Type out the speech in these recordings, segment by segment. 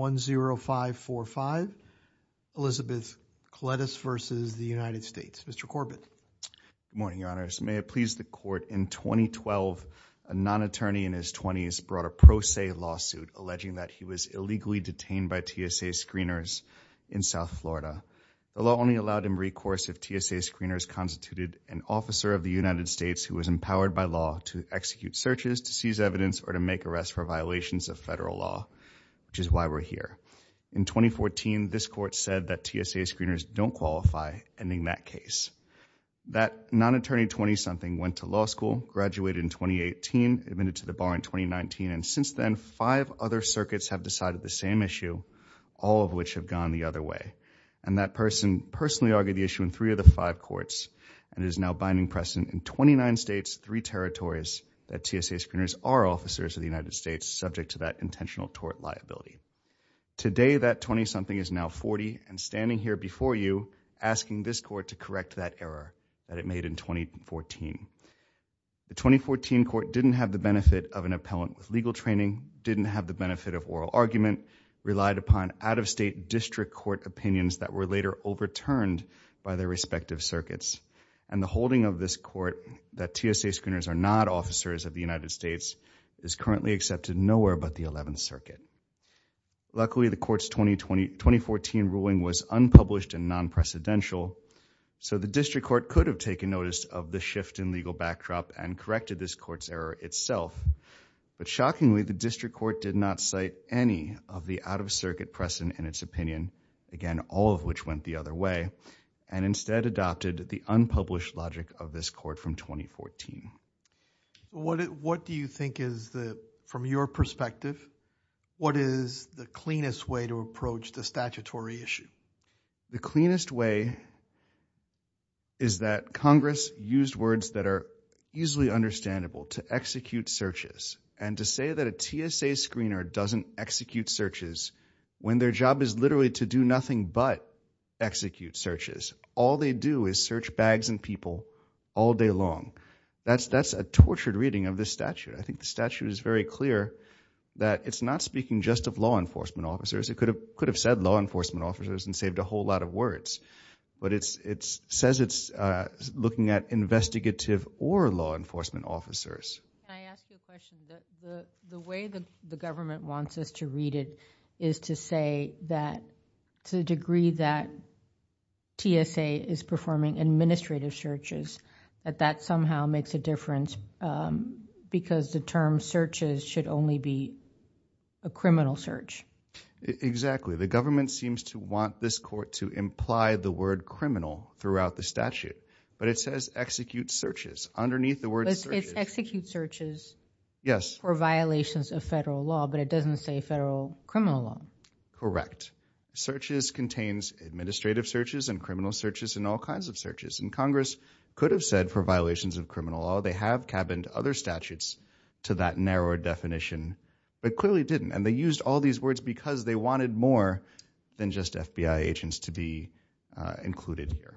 Good morning, Your Honors. May it please the Court, in 2012 a non-attorney in his 20s brought a pro se lawsuit alleging that he was illegally detained by TSA screeners in South Florida. The law only allowed him recourse if TSA screeners constituted an officer of the United States who was empowered by law to execute searches, to seize evidence, or to make arrests for violations of federal law, which is why we're here. In 2014, this Court said that TSA screeners don't qualify, ending that case. That non-attorney 20-something went to law school, graduated in 2018, admitted to the bar in 2019, and since then five other circuits have decided the same issue, all of which have gone the other way. And that person personally argued the issue in three of the five courts and is now binding precedent in 29 states, three subject to that intentional tort liability. Today, that 20-something is now 40 and standing here before you asking this Court to correct that error that it made in 2014. The 2014 Court didn't have the benefit of an appellant with legal training, didn't have the benefit of oral argument, relied upon out-of-state district court opinions that were later overturned by their respective circuits, and the holding of this Court that TSA screeners are not officers of the United States is currently accepted nowhere but the 11th Circuit. Luckily, the Court's 2014 ruling was unpublished and non-precedential, so the district court could have taken notice of the shift in legal backdrop and corrected this Court's error itself. But shockingly, the district court did not cite any of the out-of-circuit precedent in its opinion, again, all of which went the other way, and instead adopted the unpublished logic of this Court from 2014. What do you think is the, from your perspective, what is the cleanest way to approach the statutory issue? The cleanest way is that Congress used words that are easily understandable to execute searches, and to say that a TSA screener doesn't execute searches when their job is literally to do nothing but execute searches. All they do is search bags and people all day long. That's a tortured reading of this statute. I think the statute is very clear that it's not speaking just of law enforcement officers. It could have said law enforcement officers and saved a whole lot of words, but it says it's looking at investigative or law enforcement officers. Can I ask you a question? The way the government wants us to read it is to say that, to the degree that TSA is performing administrative searches, that that somehow makes a difference because the term searches should only be a criminal search. Exactly. The government seems to want this Court to imply the word criminal throughout the statute, but it says execute searches underneath the word searches. It says execute searches for violations of federal law, but it doesn't say federal criminal law. Correct. Searches contains administrative searches and criminal searches and all kinds of searches. Congress could have said for violations of criminal law. They have cabined other statutes to that narrower definition, but clearly didn't. They used all these words because they wanted more than just FBI agents to be included here.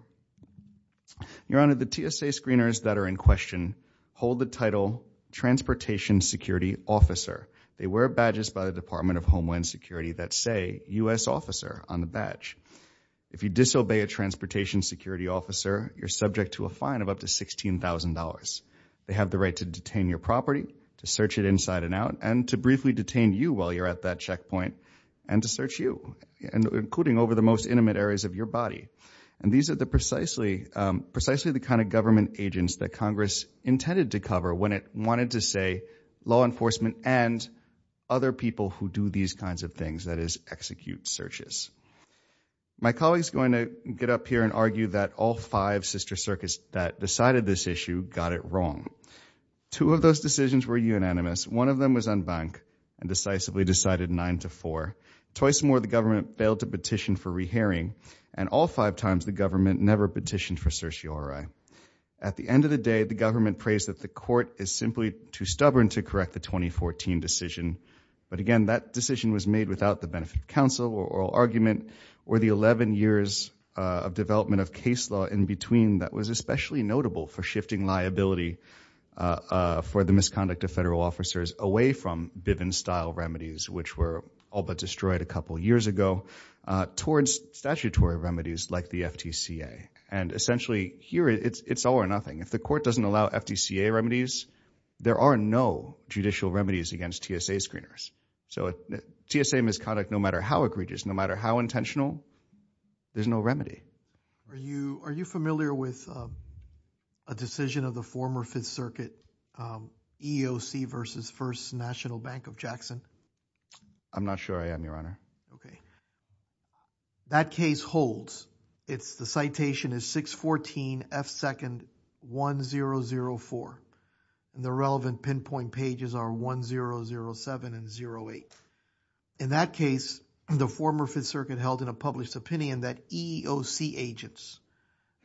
Your Honor, the TSA screeners that are in question hold the title Transportation Security Officer. They wear badges by the Department of Homeland Security that say U.S. Officer on the badge. If you disobey a Transportation Security Officer, you're subject to a fine of up to $16,000. They have the right to detain your property, to search it inside and out, and to briefly detain you while you're at that checkpoint and to search you, including over the most intimate areas of your body. These are precisely the kind of government agents that Congress intended to cover when it wanted to say law enforcement and other people who do these kinds of things, that is execute searches. My colleague's going to get up here and argue that all five sister circuits that decided this issue got it wrong. Two of those decisions were unanimous. One of them was unbanked and decisively decided 9-4. Twice more, the government failed to petition for re-hearing. And all five times, the government never petitioned for certiorari. At the end of the day, the government praised that the court is simply too stubborn to correct the 2014 decision. But again, that decision was made without the benefit of counsel or oral argument or the 11 years of development of case law in between that was especially notable for shifting liability for the misconduct of federal officers away from Bivens-style remedies, which were all but destroyed a couple years ago, towards statutory remedies like the FTCA. And essentially, here it's all or nothing. If the court doesn't allow FTCA remedies, there are no judicial remedies against TSA screeners. So TSA misconduct, no matter how egregious, no matter how intentional, there's no remedy. Okay. Are you familiar with a decision of the former Fifth Circuit, EEOC versus First National Bank of Jackson? I'm not sure I am, Your Honor. That case holds. It's the citation is 614 F. 2nd. 1004. The relevant pinpoint pages are 1007 and 08. In that case, the former Fifth Circuit held in a published opinion that EEOC agents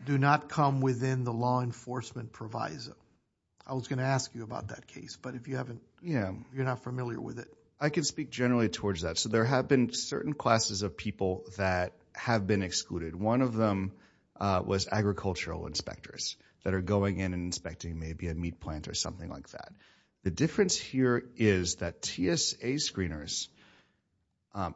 do not come within the law enforcement proviso. I was going to ask you about that case, but if you haven't, you're not familiar with it. I can speak generally towards that. So there have been certain classes of people that have been excluded. One of them was agricultural inspectors that are going in and inspecting maybe a meat plant or something like that. The difference here is that TSA screeners,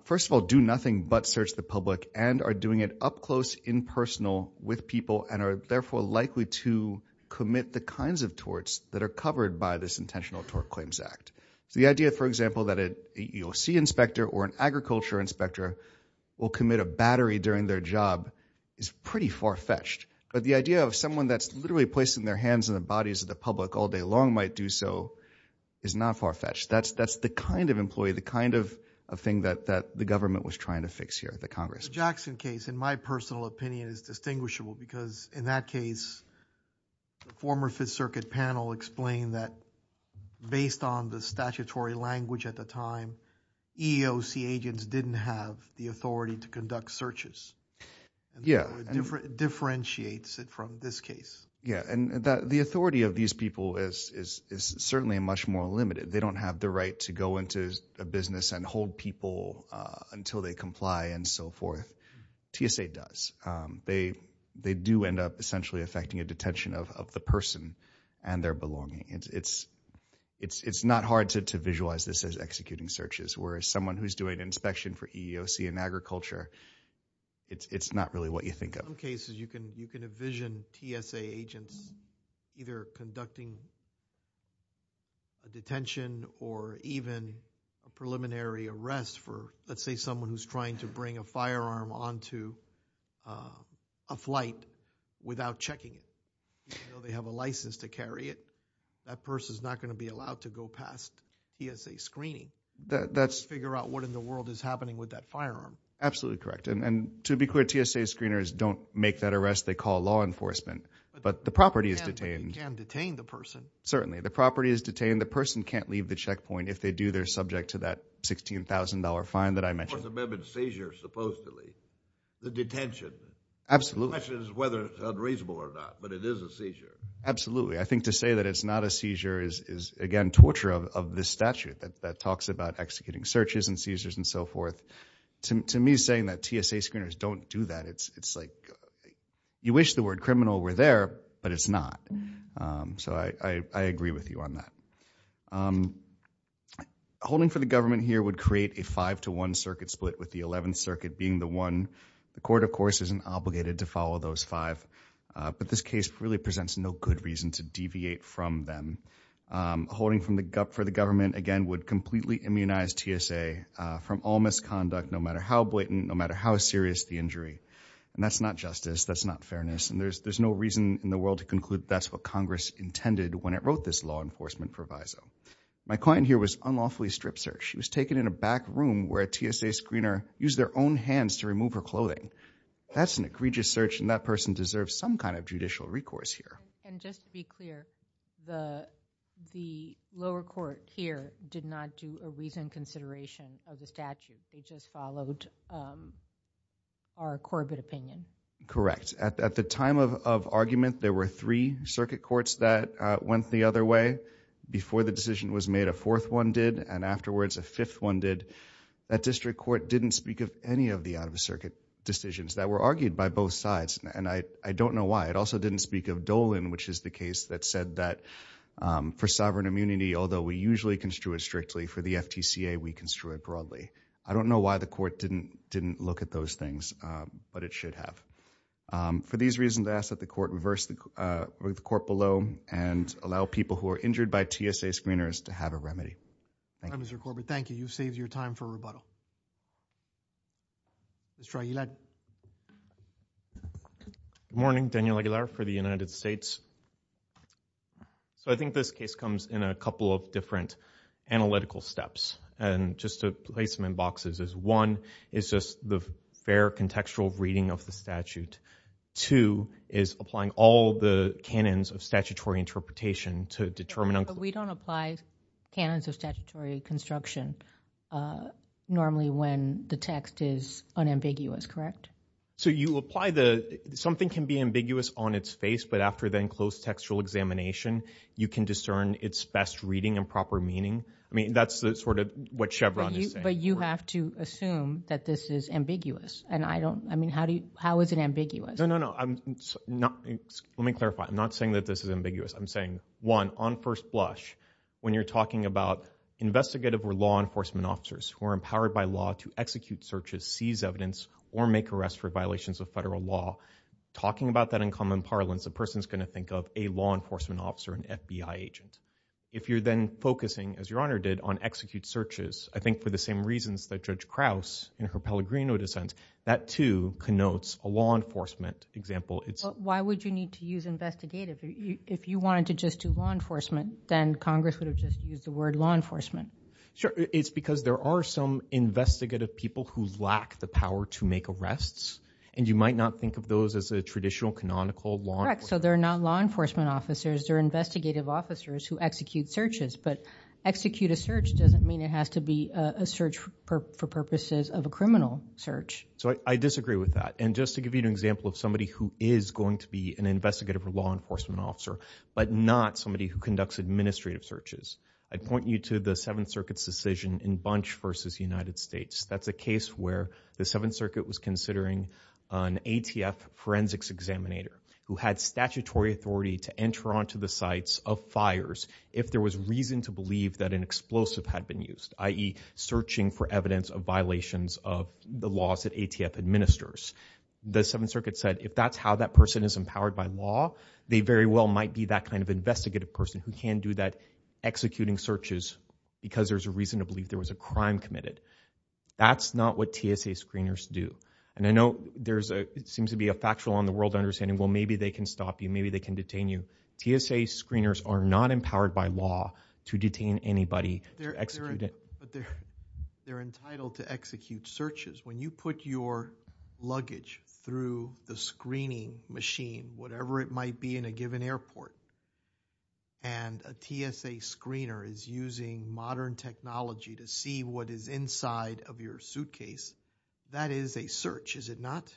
first of all, do nothing but search the public and are doing it up close, impersonal with people and are therefore likely to commit the kinds of torts that are covered by this intentional tort claims act. So the idea, for example, that an EEOC inspector or an agriculture inspector will commit a battery during their job is pretty far-fetched. But the idea of someone that's literally placing their hands in the bodies of the public all day long might do so is not far-fetched. That's the kind of employee, the kind of thing that the government was trying to fix here at the Congress. The Jackson case, in my personal opinion, is distinguishable because in that case, the former Fifth Circuit panel explained that based on the statutory language at the time, EEOC agents didn't have the authority to conduct searches. It differentiates it from this case. Yeah. The authority of these people is certainly much more limited. They don't have the right to go into a business and hold people until they comply and so forth. TSA does. They do end up essentially affecting a detention of the person and their belonging. It's not hard to visualize this as executing searches, whereas someone who's doing an inspection for EEOC and agriculture, it's not really what you think of. In some cases, you can envision TSA agents either conducting a detention or even a preliminary arrest for, let's say, someone who's trying to bring a firearm onto a flight without checking it. Even though they have a license to carry it, that person's not going to be allowed to go past TSA screening to figure out what in the world is happening with that firearm. Absolutely correct. To be clear, TSA screeners don't make that arrest. They call law enforcement, but the property is detained. But you can detain the person. Certainly. The property is detained. The person can't leave the checkpoint if they do. They're subject to that $16,000 fine that I mentioned. Fourth Amendment seizure, supposedly. The detention. Absolutely. The question is whether it's unreasonable or not, but it is a seizure. Absolutely. I think to say that it's not a seizure is, again, torture of this statute that talks about executing searches and seizures and so forth. To me, saying that TSA screeners don't do that, it's like you wish the word criminal were there, but it's not. I agree with you on that. Holding for the government here would create a five-to-one circuit split with the Eleventh and all those five. But this case really presents no good reason to deviate from them. Holding for the government, again, would completely immunize TSA from all misconduct, no matter how blatant, no matter how serious the injury. That's not justice. That's not fairness. There's no reason in the world to conclude that's what Congress intended when it wrote this law enforcement proviso. My client here was unlawfully strip searched. She was taken in a back room where a TSA screener used their own hands to remove her clothing. That's an egregious search, and that person deserves some kind of judicial recourse here. And just to be clear, the lower court here did not do a reasoned consideration of the statute. They just followed our Corbett opinion. Correct. At the time of argument, there were three circuit courts that went the other way. Before the decision was made, a fourth one did, and afterwards, a fifth one did. That didn't speak of any of the out-of-the-circuit decisions that were argued by both sides, and I don't know why. It also didn't speak of Dolan, which is the case that said that for sovereign immunity, although we usually construe it strictly, for the FTCA, we construe it broadly. I don't know why the court didn't look at those things, but it should have. For these reasons, I ask that the court reverse the court below and allow people who are injured by TSA screeners to have a remedy. All right, Mr. Corbett. Thank you. You've saved your time for rebuttal. Mr. Aguilar. Good morning. Daniel Aguilar for the United States. So I think this case comes in a couple of different analytical steps. And just to place them in boxes is one is just the fair contextual reading of the statute. Two is applying all the canons of statutory interpretation to determine But we don't apply canons of statutory construction normally when the text is unambiguous, correct? So you apply the—something can be ambiguous on its face, but after the enclosed textual examination, you can discern its best reading and proper meaning. I mean, that's sort of what Chevron is saying. But you have to assume that this is ambiguous, and I don't—I mean, how is it ambiguous? No, no, no. Let me clarify. I'm not saying that this is ambiguous. I'm saying, one, on first blush, when you're talking about investigative or law enforcement officers who are empowered by law to execute searches, seize evidence, or make arrests for violations of federal law, talking about that in common parlance, a person's going to think of a law enforcement officer, an FBI agent. If you're then focusing, as Your Honor did, on execute searches, I think for the same reasons that Judge Krause in her Pellegrino dissent, that, too, connotes a law enforcement example. Why would you need to use investigative? If you wanted to just do law enforcement, then Congress would have just used the word law enforcement. Sure. It's because there are some investigative people who lack the power to make arrests, and you might not think of those as a traditional, canonical law enforcement— Correct. So they're not law enforcement officers. They're investigative officers who execute searches. But execute a search doesn't mean it has to be a search for purposes of a criminal search. So I disagree with that. And just to give you an example of somebody who is going to be an investigative or law enforcement officer, but not somebody who conducts administrative searches, I'd point you to the Seventh Circuit's decision in Bunch v. United States. That's a case where the Seventh Circuit was considering an ATF forensics examinator who had statutory authority to enter onto the sites of fires if there was reason to believe that an explosive had been used, i.e., searching for evidence of violations of the laws that the ATF administers. The Seventh Circuit said, if that's how that person is empowered by law, they very well might be that kind of investigative person who can do that, executing searches, because there's a reason to believe there was a crime committed. That's not what TSA screeners do. And I know there seems to be a factual on the world understanding, well, maybe they can stop you, maybe they can detain you. TSA screeners are not empowered by law to detain anybody, to execute it. But they're entitled to execute searches. When you put your luggage through the screening machine, whatever it might be in a given airport, and a TSA screener is using modern technology to see what is inside of your suitcase, that is a search, is it not?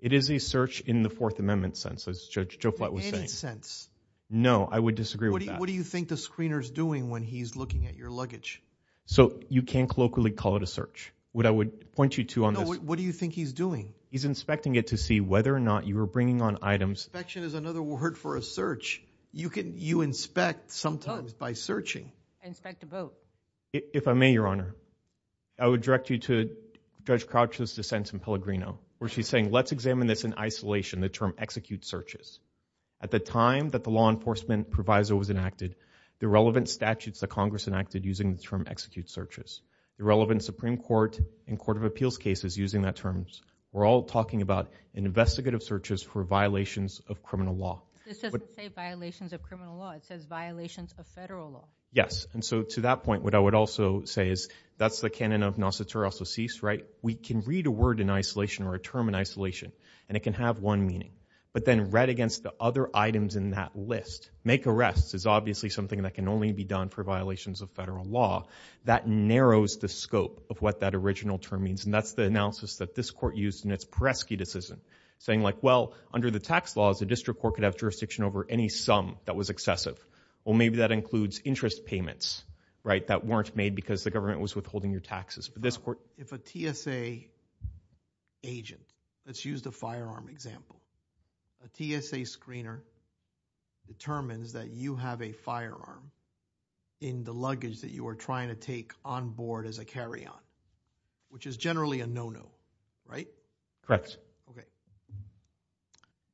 It is a search in the Fourth Amendment sense, as Judge Joflat was saying. In any sense. No, I would disagree with that. What do you think the screener's doing when he's looking at your luggage? So, you can't colloquially call it a search. What I would point you to on this... No, what do you think he's doing? He's inspecting it to see whether or not you were bringing on items... Inspection is another word for a search. You inspect sometimes by searching. Inspect a boat. If I may, Your Honor, I would direct you to Judge Crouch's dissent in Pellegrino, where she's saying, let's examine this in isolation, the term execute searches. At the time that the law enforcement proviso was enacted, the relevant statutes that Congress enacted using the term execute searches. The relevant Supreme Court and Court of Appeals cases using that term. We're all talking about investigative searches for violations of criminal law. This doesn't say violations of criminal law. It says violations of federal law. Yes. And so, to that point, what I would also say is, that's the canon of nascitur, also cease, right? We can read a word in isolation or a term in isolation, and it can have one meaning. But then, read against the other items in that list. Make arrests is obviously something that can only be done for violations of federal law. That narrows the scope of what that original term means, and that's the analysis that this court used in its Peresky decision, saying like, well, under the tax laws, a district court could have jurisdiction over any sum that was excessive. Well, maybe that includes interest payments, right, that weren't made because the government was withholding your taxes. But this court. So, if a TSA agent, let's use the firearm example. A TSA screener determines that you have a firearm in the luggage that you are trying to take on board as a carry-on, which is generally a no-no, right? Correct. Okay.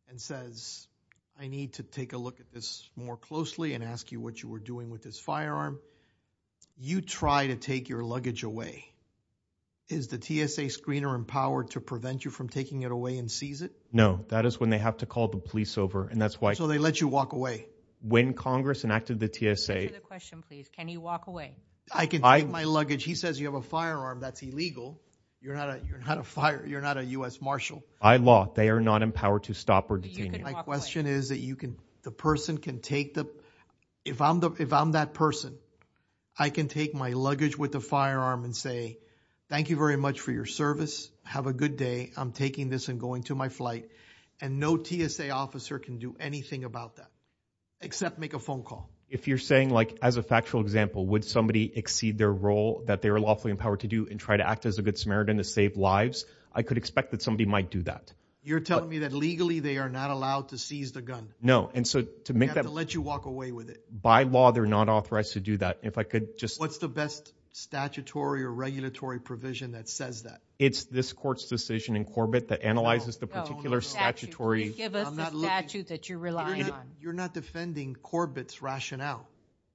And says, I need to take a look at this more closely and ask you what you were doing with this firearm. You try to take your luggage away. Is the TSA screener empowered to prevent you from taking it away and seize it? No. That is when they have to call the police over, and that's why. So, they let you walk away. When Congress enacted the TSA. Answer the question, please. Can he walk away? I can take my luggage. He says you have a firearm. That's illegal. You're not a U.S. Marshal. By law, they are not empowered to stop or detain you. My question is that the person can take the, if I'm that person, I can take my luggage with the firearm and say, thank you very much for your service. Have a good day. I'm taking this and going to my flight. And no TSA officer can do anything about that, except make a phone call. If you're saying, like, as a factual example, would somebody exceed their role that they are lawfully empowered to do and try to act as a good Samaritan to save lives, I could expect that somebody might do that. You're telling me that legally they are not allowed to seize the gun. No. And so, to make that. They have to let you walk away with it. By law, they're not authorized to do that. If I could just. What's the best statutory or regulatory provision that says that? It's this court's decision in Corbett that analyzes the particular statutory. Give us the statute that you rely on. You're not defending Corbett's rationale.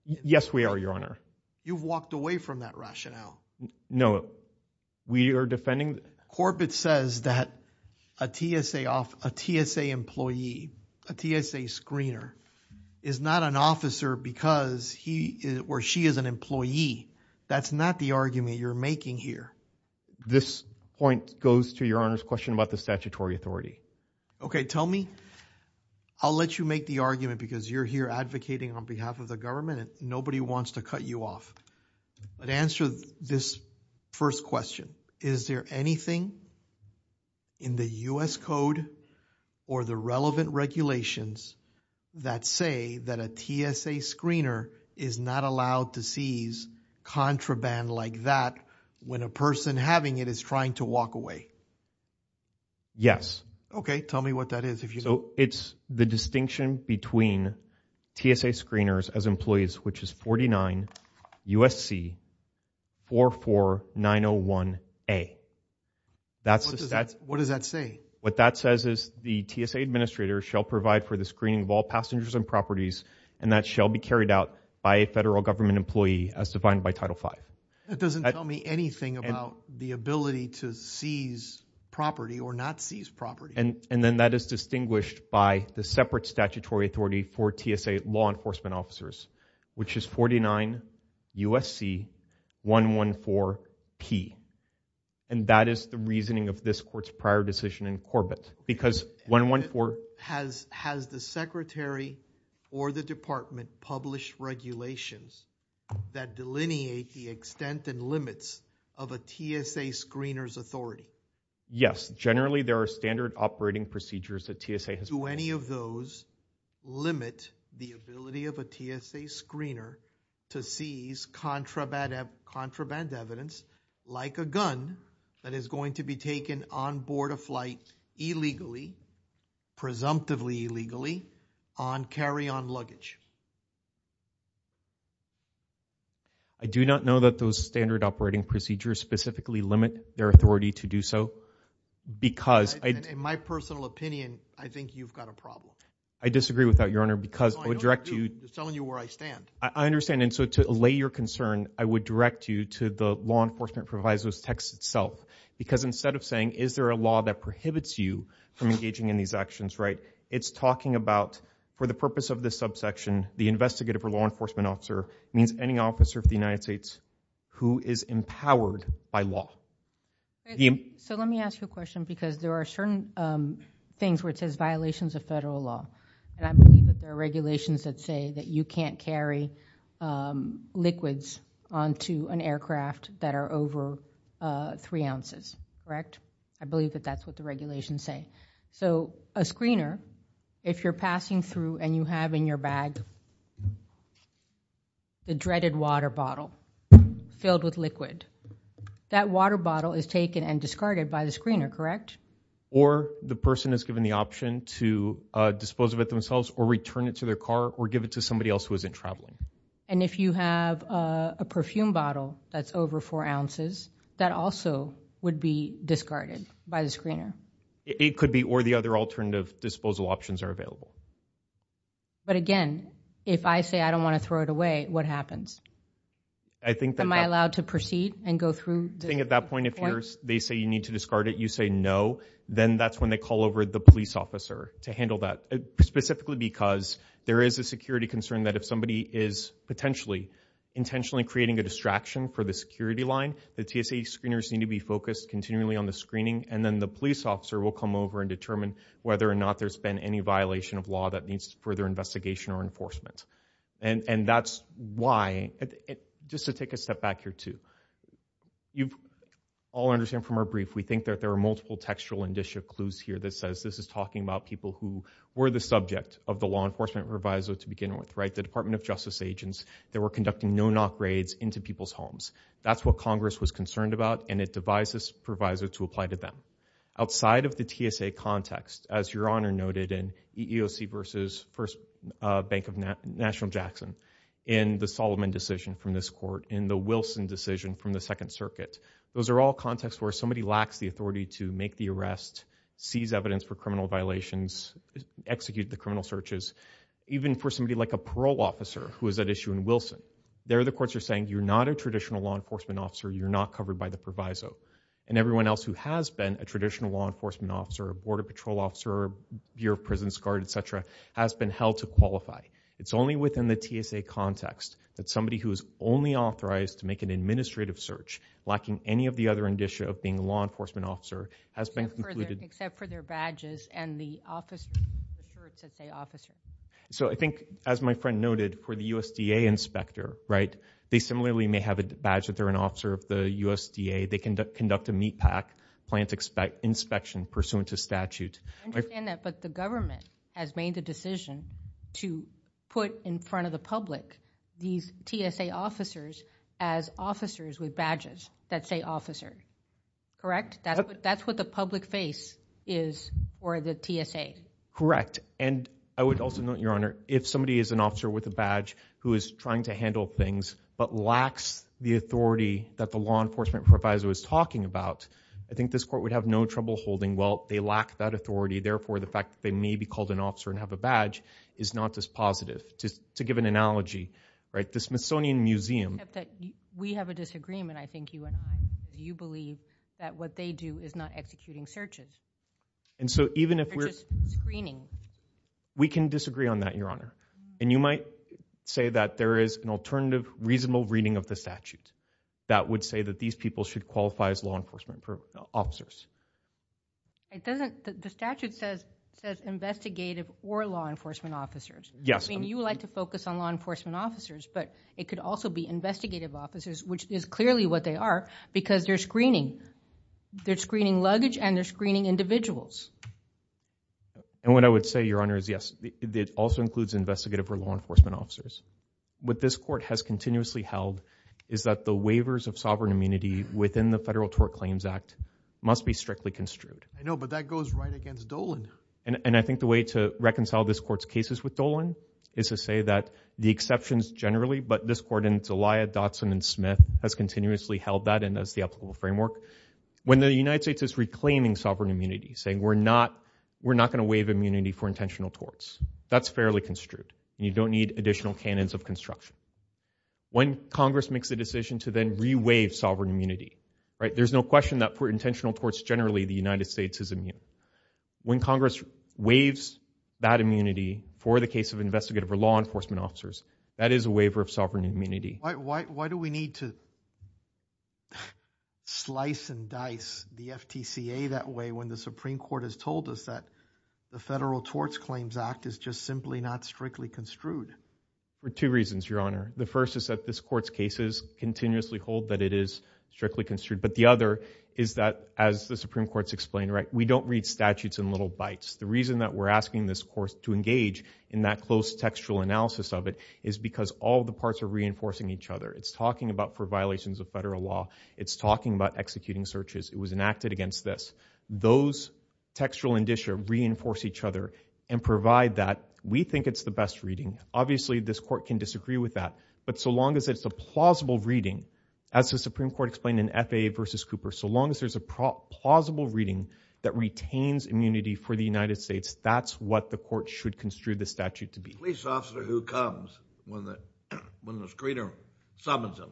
Yes, we are, Your Honor. You've walked away from that rationale. No, we are defending. Corbett says that a TSA employee, a TSA screener, is not an officer because he or she is an employee. That's not the argument you're making here. This point goes to Your Honor's question about the statutory authority. Okay, tell me. I'll let you make the argument because you're here advocating on behalf of the government and nobody wants to cut you off. But answer this first question. Is there anything in the U.S. Code or the relevant regulations that say that a TSA screener is not allowed to seize contraband like that when a person having it is trying to walk away? Yes. Okay, tell me what that is. It's the distinction between TSA screeners as employees, which is 49 U.S.C. 44901A. What does that say? What that says is the TSA administrator shall provide for the screening of all passengers and properties and that shall be carried out by a federal government employee as defined by Title V. That doesn't tell me anything about the ability to seize property or not seize property. And then that is distinguished by the separate statutory authority for TSA law enforcement officers, which is 49 U.S.C. 114P. And that is the reasoning of this Court's prior decision in Corbett. Has the Secretary or the Department published regulations that delineate the extent and limits of a TSA screener's authority? Yes. Generally, there are standard operating procedures that TSA has... Do any of those limit the ability of a TSA screener to seize contraband evidence like a gun that is going to be taken on board a flight illegally, presumptively illegally, on carry-on luggage? I do not know that those standard operating procedures specifically limit their authority to do so because... In my personal opinion, I think you've got a problem. I disagree with that, Your Honor, because I would direct you... No, I don't agree with you. I'm telling you where I stand. I understand. And so to allay your concern, I would direct you to the law enforcement proviso's text itself because instead of saying, is there a law that prohibits you from engaging in these actions, right, it's talking about, for the purpose of this subsection, the investigative or law enforcement officer means any officer of the United States who is empowered by law. So let me ask you a question because there are certain things where it says violations of federal law, and I believe that there are regulations that say that you can't carry liquids onto an aircraft that are over three ounces, correct? I believe that that's what the regulations say. So a screener, if you're passing through and you have in your bag the dreaded water bottle filled with liquid, that water bottle is taken and discarded by the screener, correct? Or the person is given the option to dispose of it themselves or return it to their car or give it to somebody else who isn't traveling. And if you have a perfume bottle that's over four ounces, that also would be discarded by the screener? It could be, or the other alternative disposal options are available. But again, if I say I don't want to throw it away, what happens? Am I allowed to proceed and go through? I think at that point, if they say you need to discard it, you say no, then that's when they call over the police officer to handle that, specifically because there is a security concern that if somebody is potentially intentionally creating a distraction for the security line, the TSA screeners need to be focused continually on the screening, and then the police officer will come over and determine whether or not there's been any violation of law that needs further investigation or enforcement. And that's why, just to take a step back here too, you all understand from our brief, we think that there are multiple textual and disjunct clues here that says this is talking about people who were the subject of the law enforcement proviso to begin with, right? The Department of Justice agents that were conducting no-knock raids into people's homes. That's what Congress was concerned about, and it devised this proviso to apply to them. Outside of the TSA context, as Your Honor noted in EEOC versus First Bank of National Jackson, in the Solomon decision from this court, in the Wilson decision from the Second Circuit, those are all contexts where somebody lacks the authority to make the arrest, seize evidence for criminal violations, execute the criminal searches. Even for somebody like a parole officer who was at issue in Wilson, there the courts are saying you're not a traditional law enforcement officer, you're not covered by the proviso. And everyone else who has been a traditional law enforcement officer, border patrol officer, Bureau of Prisons Guard, et cetera, has been held to qualify. It's only within the TSA context that somebody who is only authorized to make an administrative search, lacking any of the other indicia of being a law enforcement officer, has been concluded... Except for their badges and the office... So I think, as my friend noted, for the USDA inspector, right, they similarly may have a badge that they're an officer of the USDA, they conduct a meat pack, plant inspection pursuant to statute. I understand that, but the government has made the decision to put in front of the public these TSA officers as officers with badges that say officer. Correct? That's what the public face is for the TSA. Correct. And I would also note, Your Honor, if somebody is an officer with a badge who is trying to handle things, but lacks the authority that the law enforcement proviso is talking about, I think this court would have no trouble holding, well, they lack that authority, therefore the fact that they may be called an officer and have a badge is not as positive. To give an analogy, right, the Smithsonian Museum... Except that we have a disagreement, I think, you and I. You believe that what they do is not executing searches. And so even if we're... They're just screening. We can disagree on that, Your Honor. And you might say that there is an alternative reasonable reading of the statute that would say that these people should qualify as law enforcement officers. It doesn't... The statute says investigative or law enforcement officers. Yes. I mean, you like to focus on law enforcement officers, but it could also be investigative officers, which is clearly what they are because they're screening. They're screening luggage and they're screening individuals. And what I would say, Your Honor, is yes, it also includes investigative or law enforcement officers. What this court has continuously held is that the waivers of sovereign immunity within the Federal Tort Claims Act must be strictly construed. I know, but that goes right against Dolan. And I think the way to reconcile this court's cases with Dolan is to say that the exceptions generally, but this court and Zelaya, Dotson, and Smith has continuously held that and that's the applicable framework. When the United States is reclaiming sovereign immunity, saying we're not going to waive immunity for intentional torts, that's fairly construed. You don't need additional canons of construction. When Congress makes the decision to then re-waive sovereign immunity, right, there's no question that for intentional torts generally, the United States is immune. When Congress waives that immunity for the case of investigative or law enforcement officers, that is a waiver of sovereign immunity. Why do we need to slice and dice the FTCA that way when the Supreme Court has told us that the Federal Tort Claims Act is just simply not strictly construed? For two reasons, Your Honor. The first is that this court's cases continuously hold that it is strictly construed. But the other is that as the Supreme Court's explained, right, we don't read statutes in little bites. The reason that we're asking this court to engage in that close textual analysis of it is because all the parts are reinforcing each other. It's talking about violations of federal law. It's talking about executing searches. It was enacted against this. Those textual indicia reinforce each other and provide that. We think it's the best reading. Obviously, this court can disagree with that. But so long as it's a plausible reading, as the Supreme Court explained in FAA versus Cooper, so long as there's a plausible reading that retains immunity for the United States, that's what the court should construe the statute to be. The police officer who comes when the screener summons him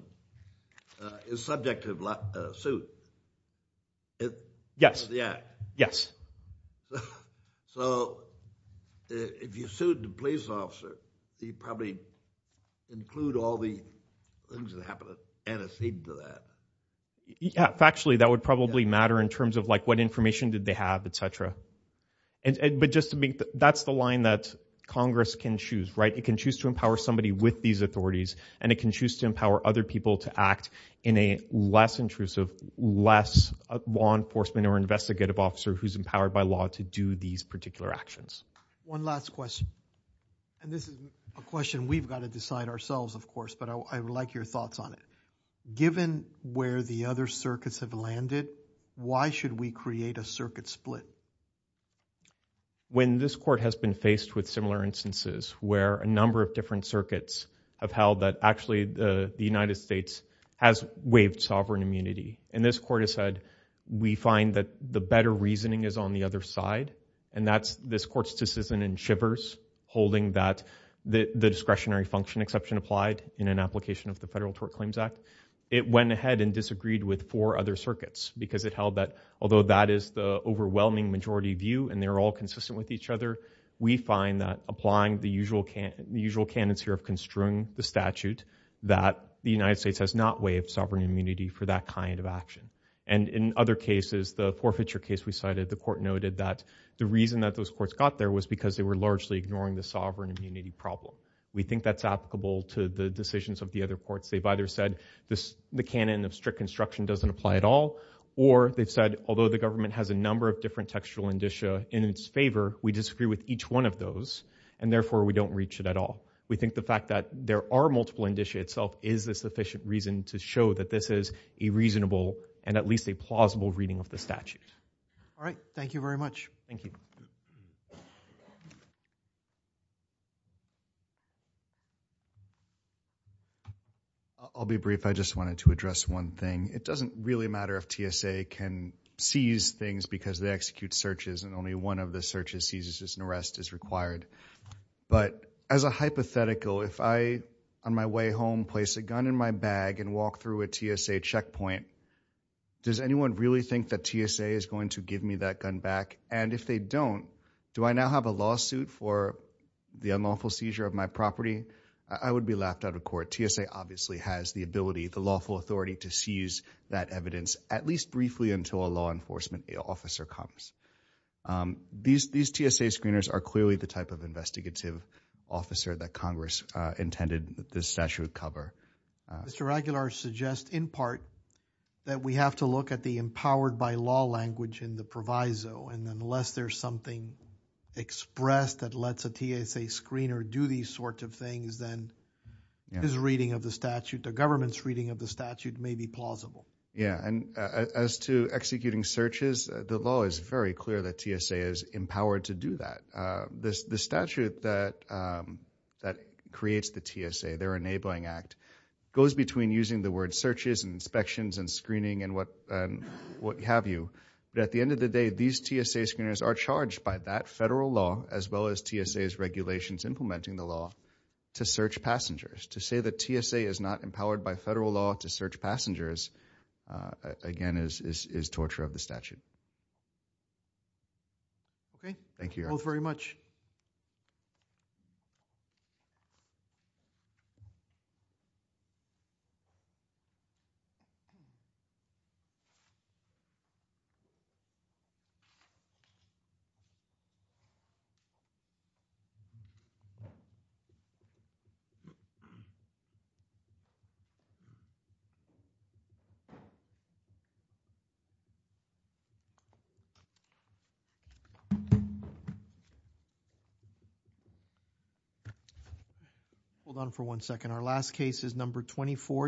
is subject to suit. Yes. Yes. So if you sued the police officer, you probably include all the things that happened antecedent to that. Factually, that would probably matter in terms of like what information did they have, et cetera. That's the line that Congress can choose. It can choose to empower somebody with these authorities, and it can choose to empower other people to act in a less intrusive, less law enforcement or investigative officer who's empowered by law to do these particular actions. One last question. This is a question we've got to decide ourselves, of course, but I would like your thoughts on it. Given where the other circuits have landed, why should we create a circuit split? When this court has been faced with similar instances where a number of different circuits have held that actually the United States has waived sovereign immunity, and this court has said we find that the better reasoning is on the other side, and that's this court's decision in Shivers holding that the discretionary function exception applied in an application of the Federal Tort Claims Act, it went ahead and disagreed with four other circuits because it held that although that is the overwhelming majority view, and they're all consistent with each other, we find that applying the usual canons here of construing the statute that the United States has not waived sovereign immunity for that kind of action. In other cases, the forfeiture case we cited, the court noted that the reason that those courts got there was because they were largely ignoring the sovereign immunity problem. We think that's applicable to the decisions of the other courts. They've either said the canon of strict construction doesn't apply at all, or they've said although the government has a number of different textual indicia in its favor, we disagree with each one of those, and therefore we don't reach it at all. We think the fact that there are multiple indicia itself is a sufficient reason to show that this is a reasonable and at least a plausible reading of the statute. All right. Thank you very much. Thank you. I'll be brief. I just wanted to address one thing. It doesn't really matter if TSA can seize things because they execute searches, and only one of the searches seizes an arrest is required, but as a hypothetical, if I, on my way home, place a gun in my bag and walk through a TSA checkpoint, does anyone really think that TSA is going to give me that gun back? And if they don't, do I now have a lawsuit for the unlawful seizure of my property? I would be laughed out of court. TSA obviously has the ability, the lawful authority to seize that evidence at least briefly until a law enforcement officer comes. These TSA screeners are clearly the type of investigative officer that Congress intended this statute would cover. Mr. Aguilar suggests in part that we have to look at the empowered by law language in the proviso, and unless there's something expressed that lets a TSA screener do these sorts of things, then his reading of the statute, the government's reading of the statute, may be plausible. Yeah, and as to executing searches, the law is very clear that TSA is empowered to do that. The statute that creates the TSA, their enabling act, goes between using the word searches and inspections and screening and what have you. But at the end of the day, these TSA screeners are charged by that federal law as well as TSA's regulations implementing the law to search passengers. To say that TSA is not empowered by federal law to search passengers, again, is torture of the statute. Okay. Thank you. Both very much. Hold on for one second. Our last case is number 24.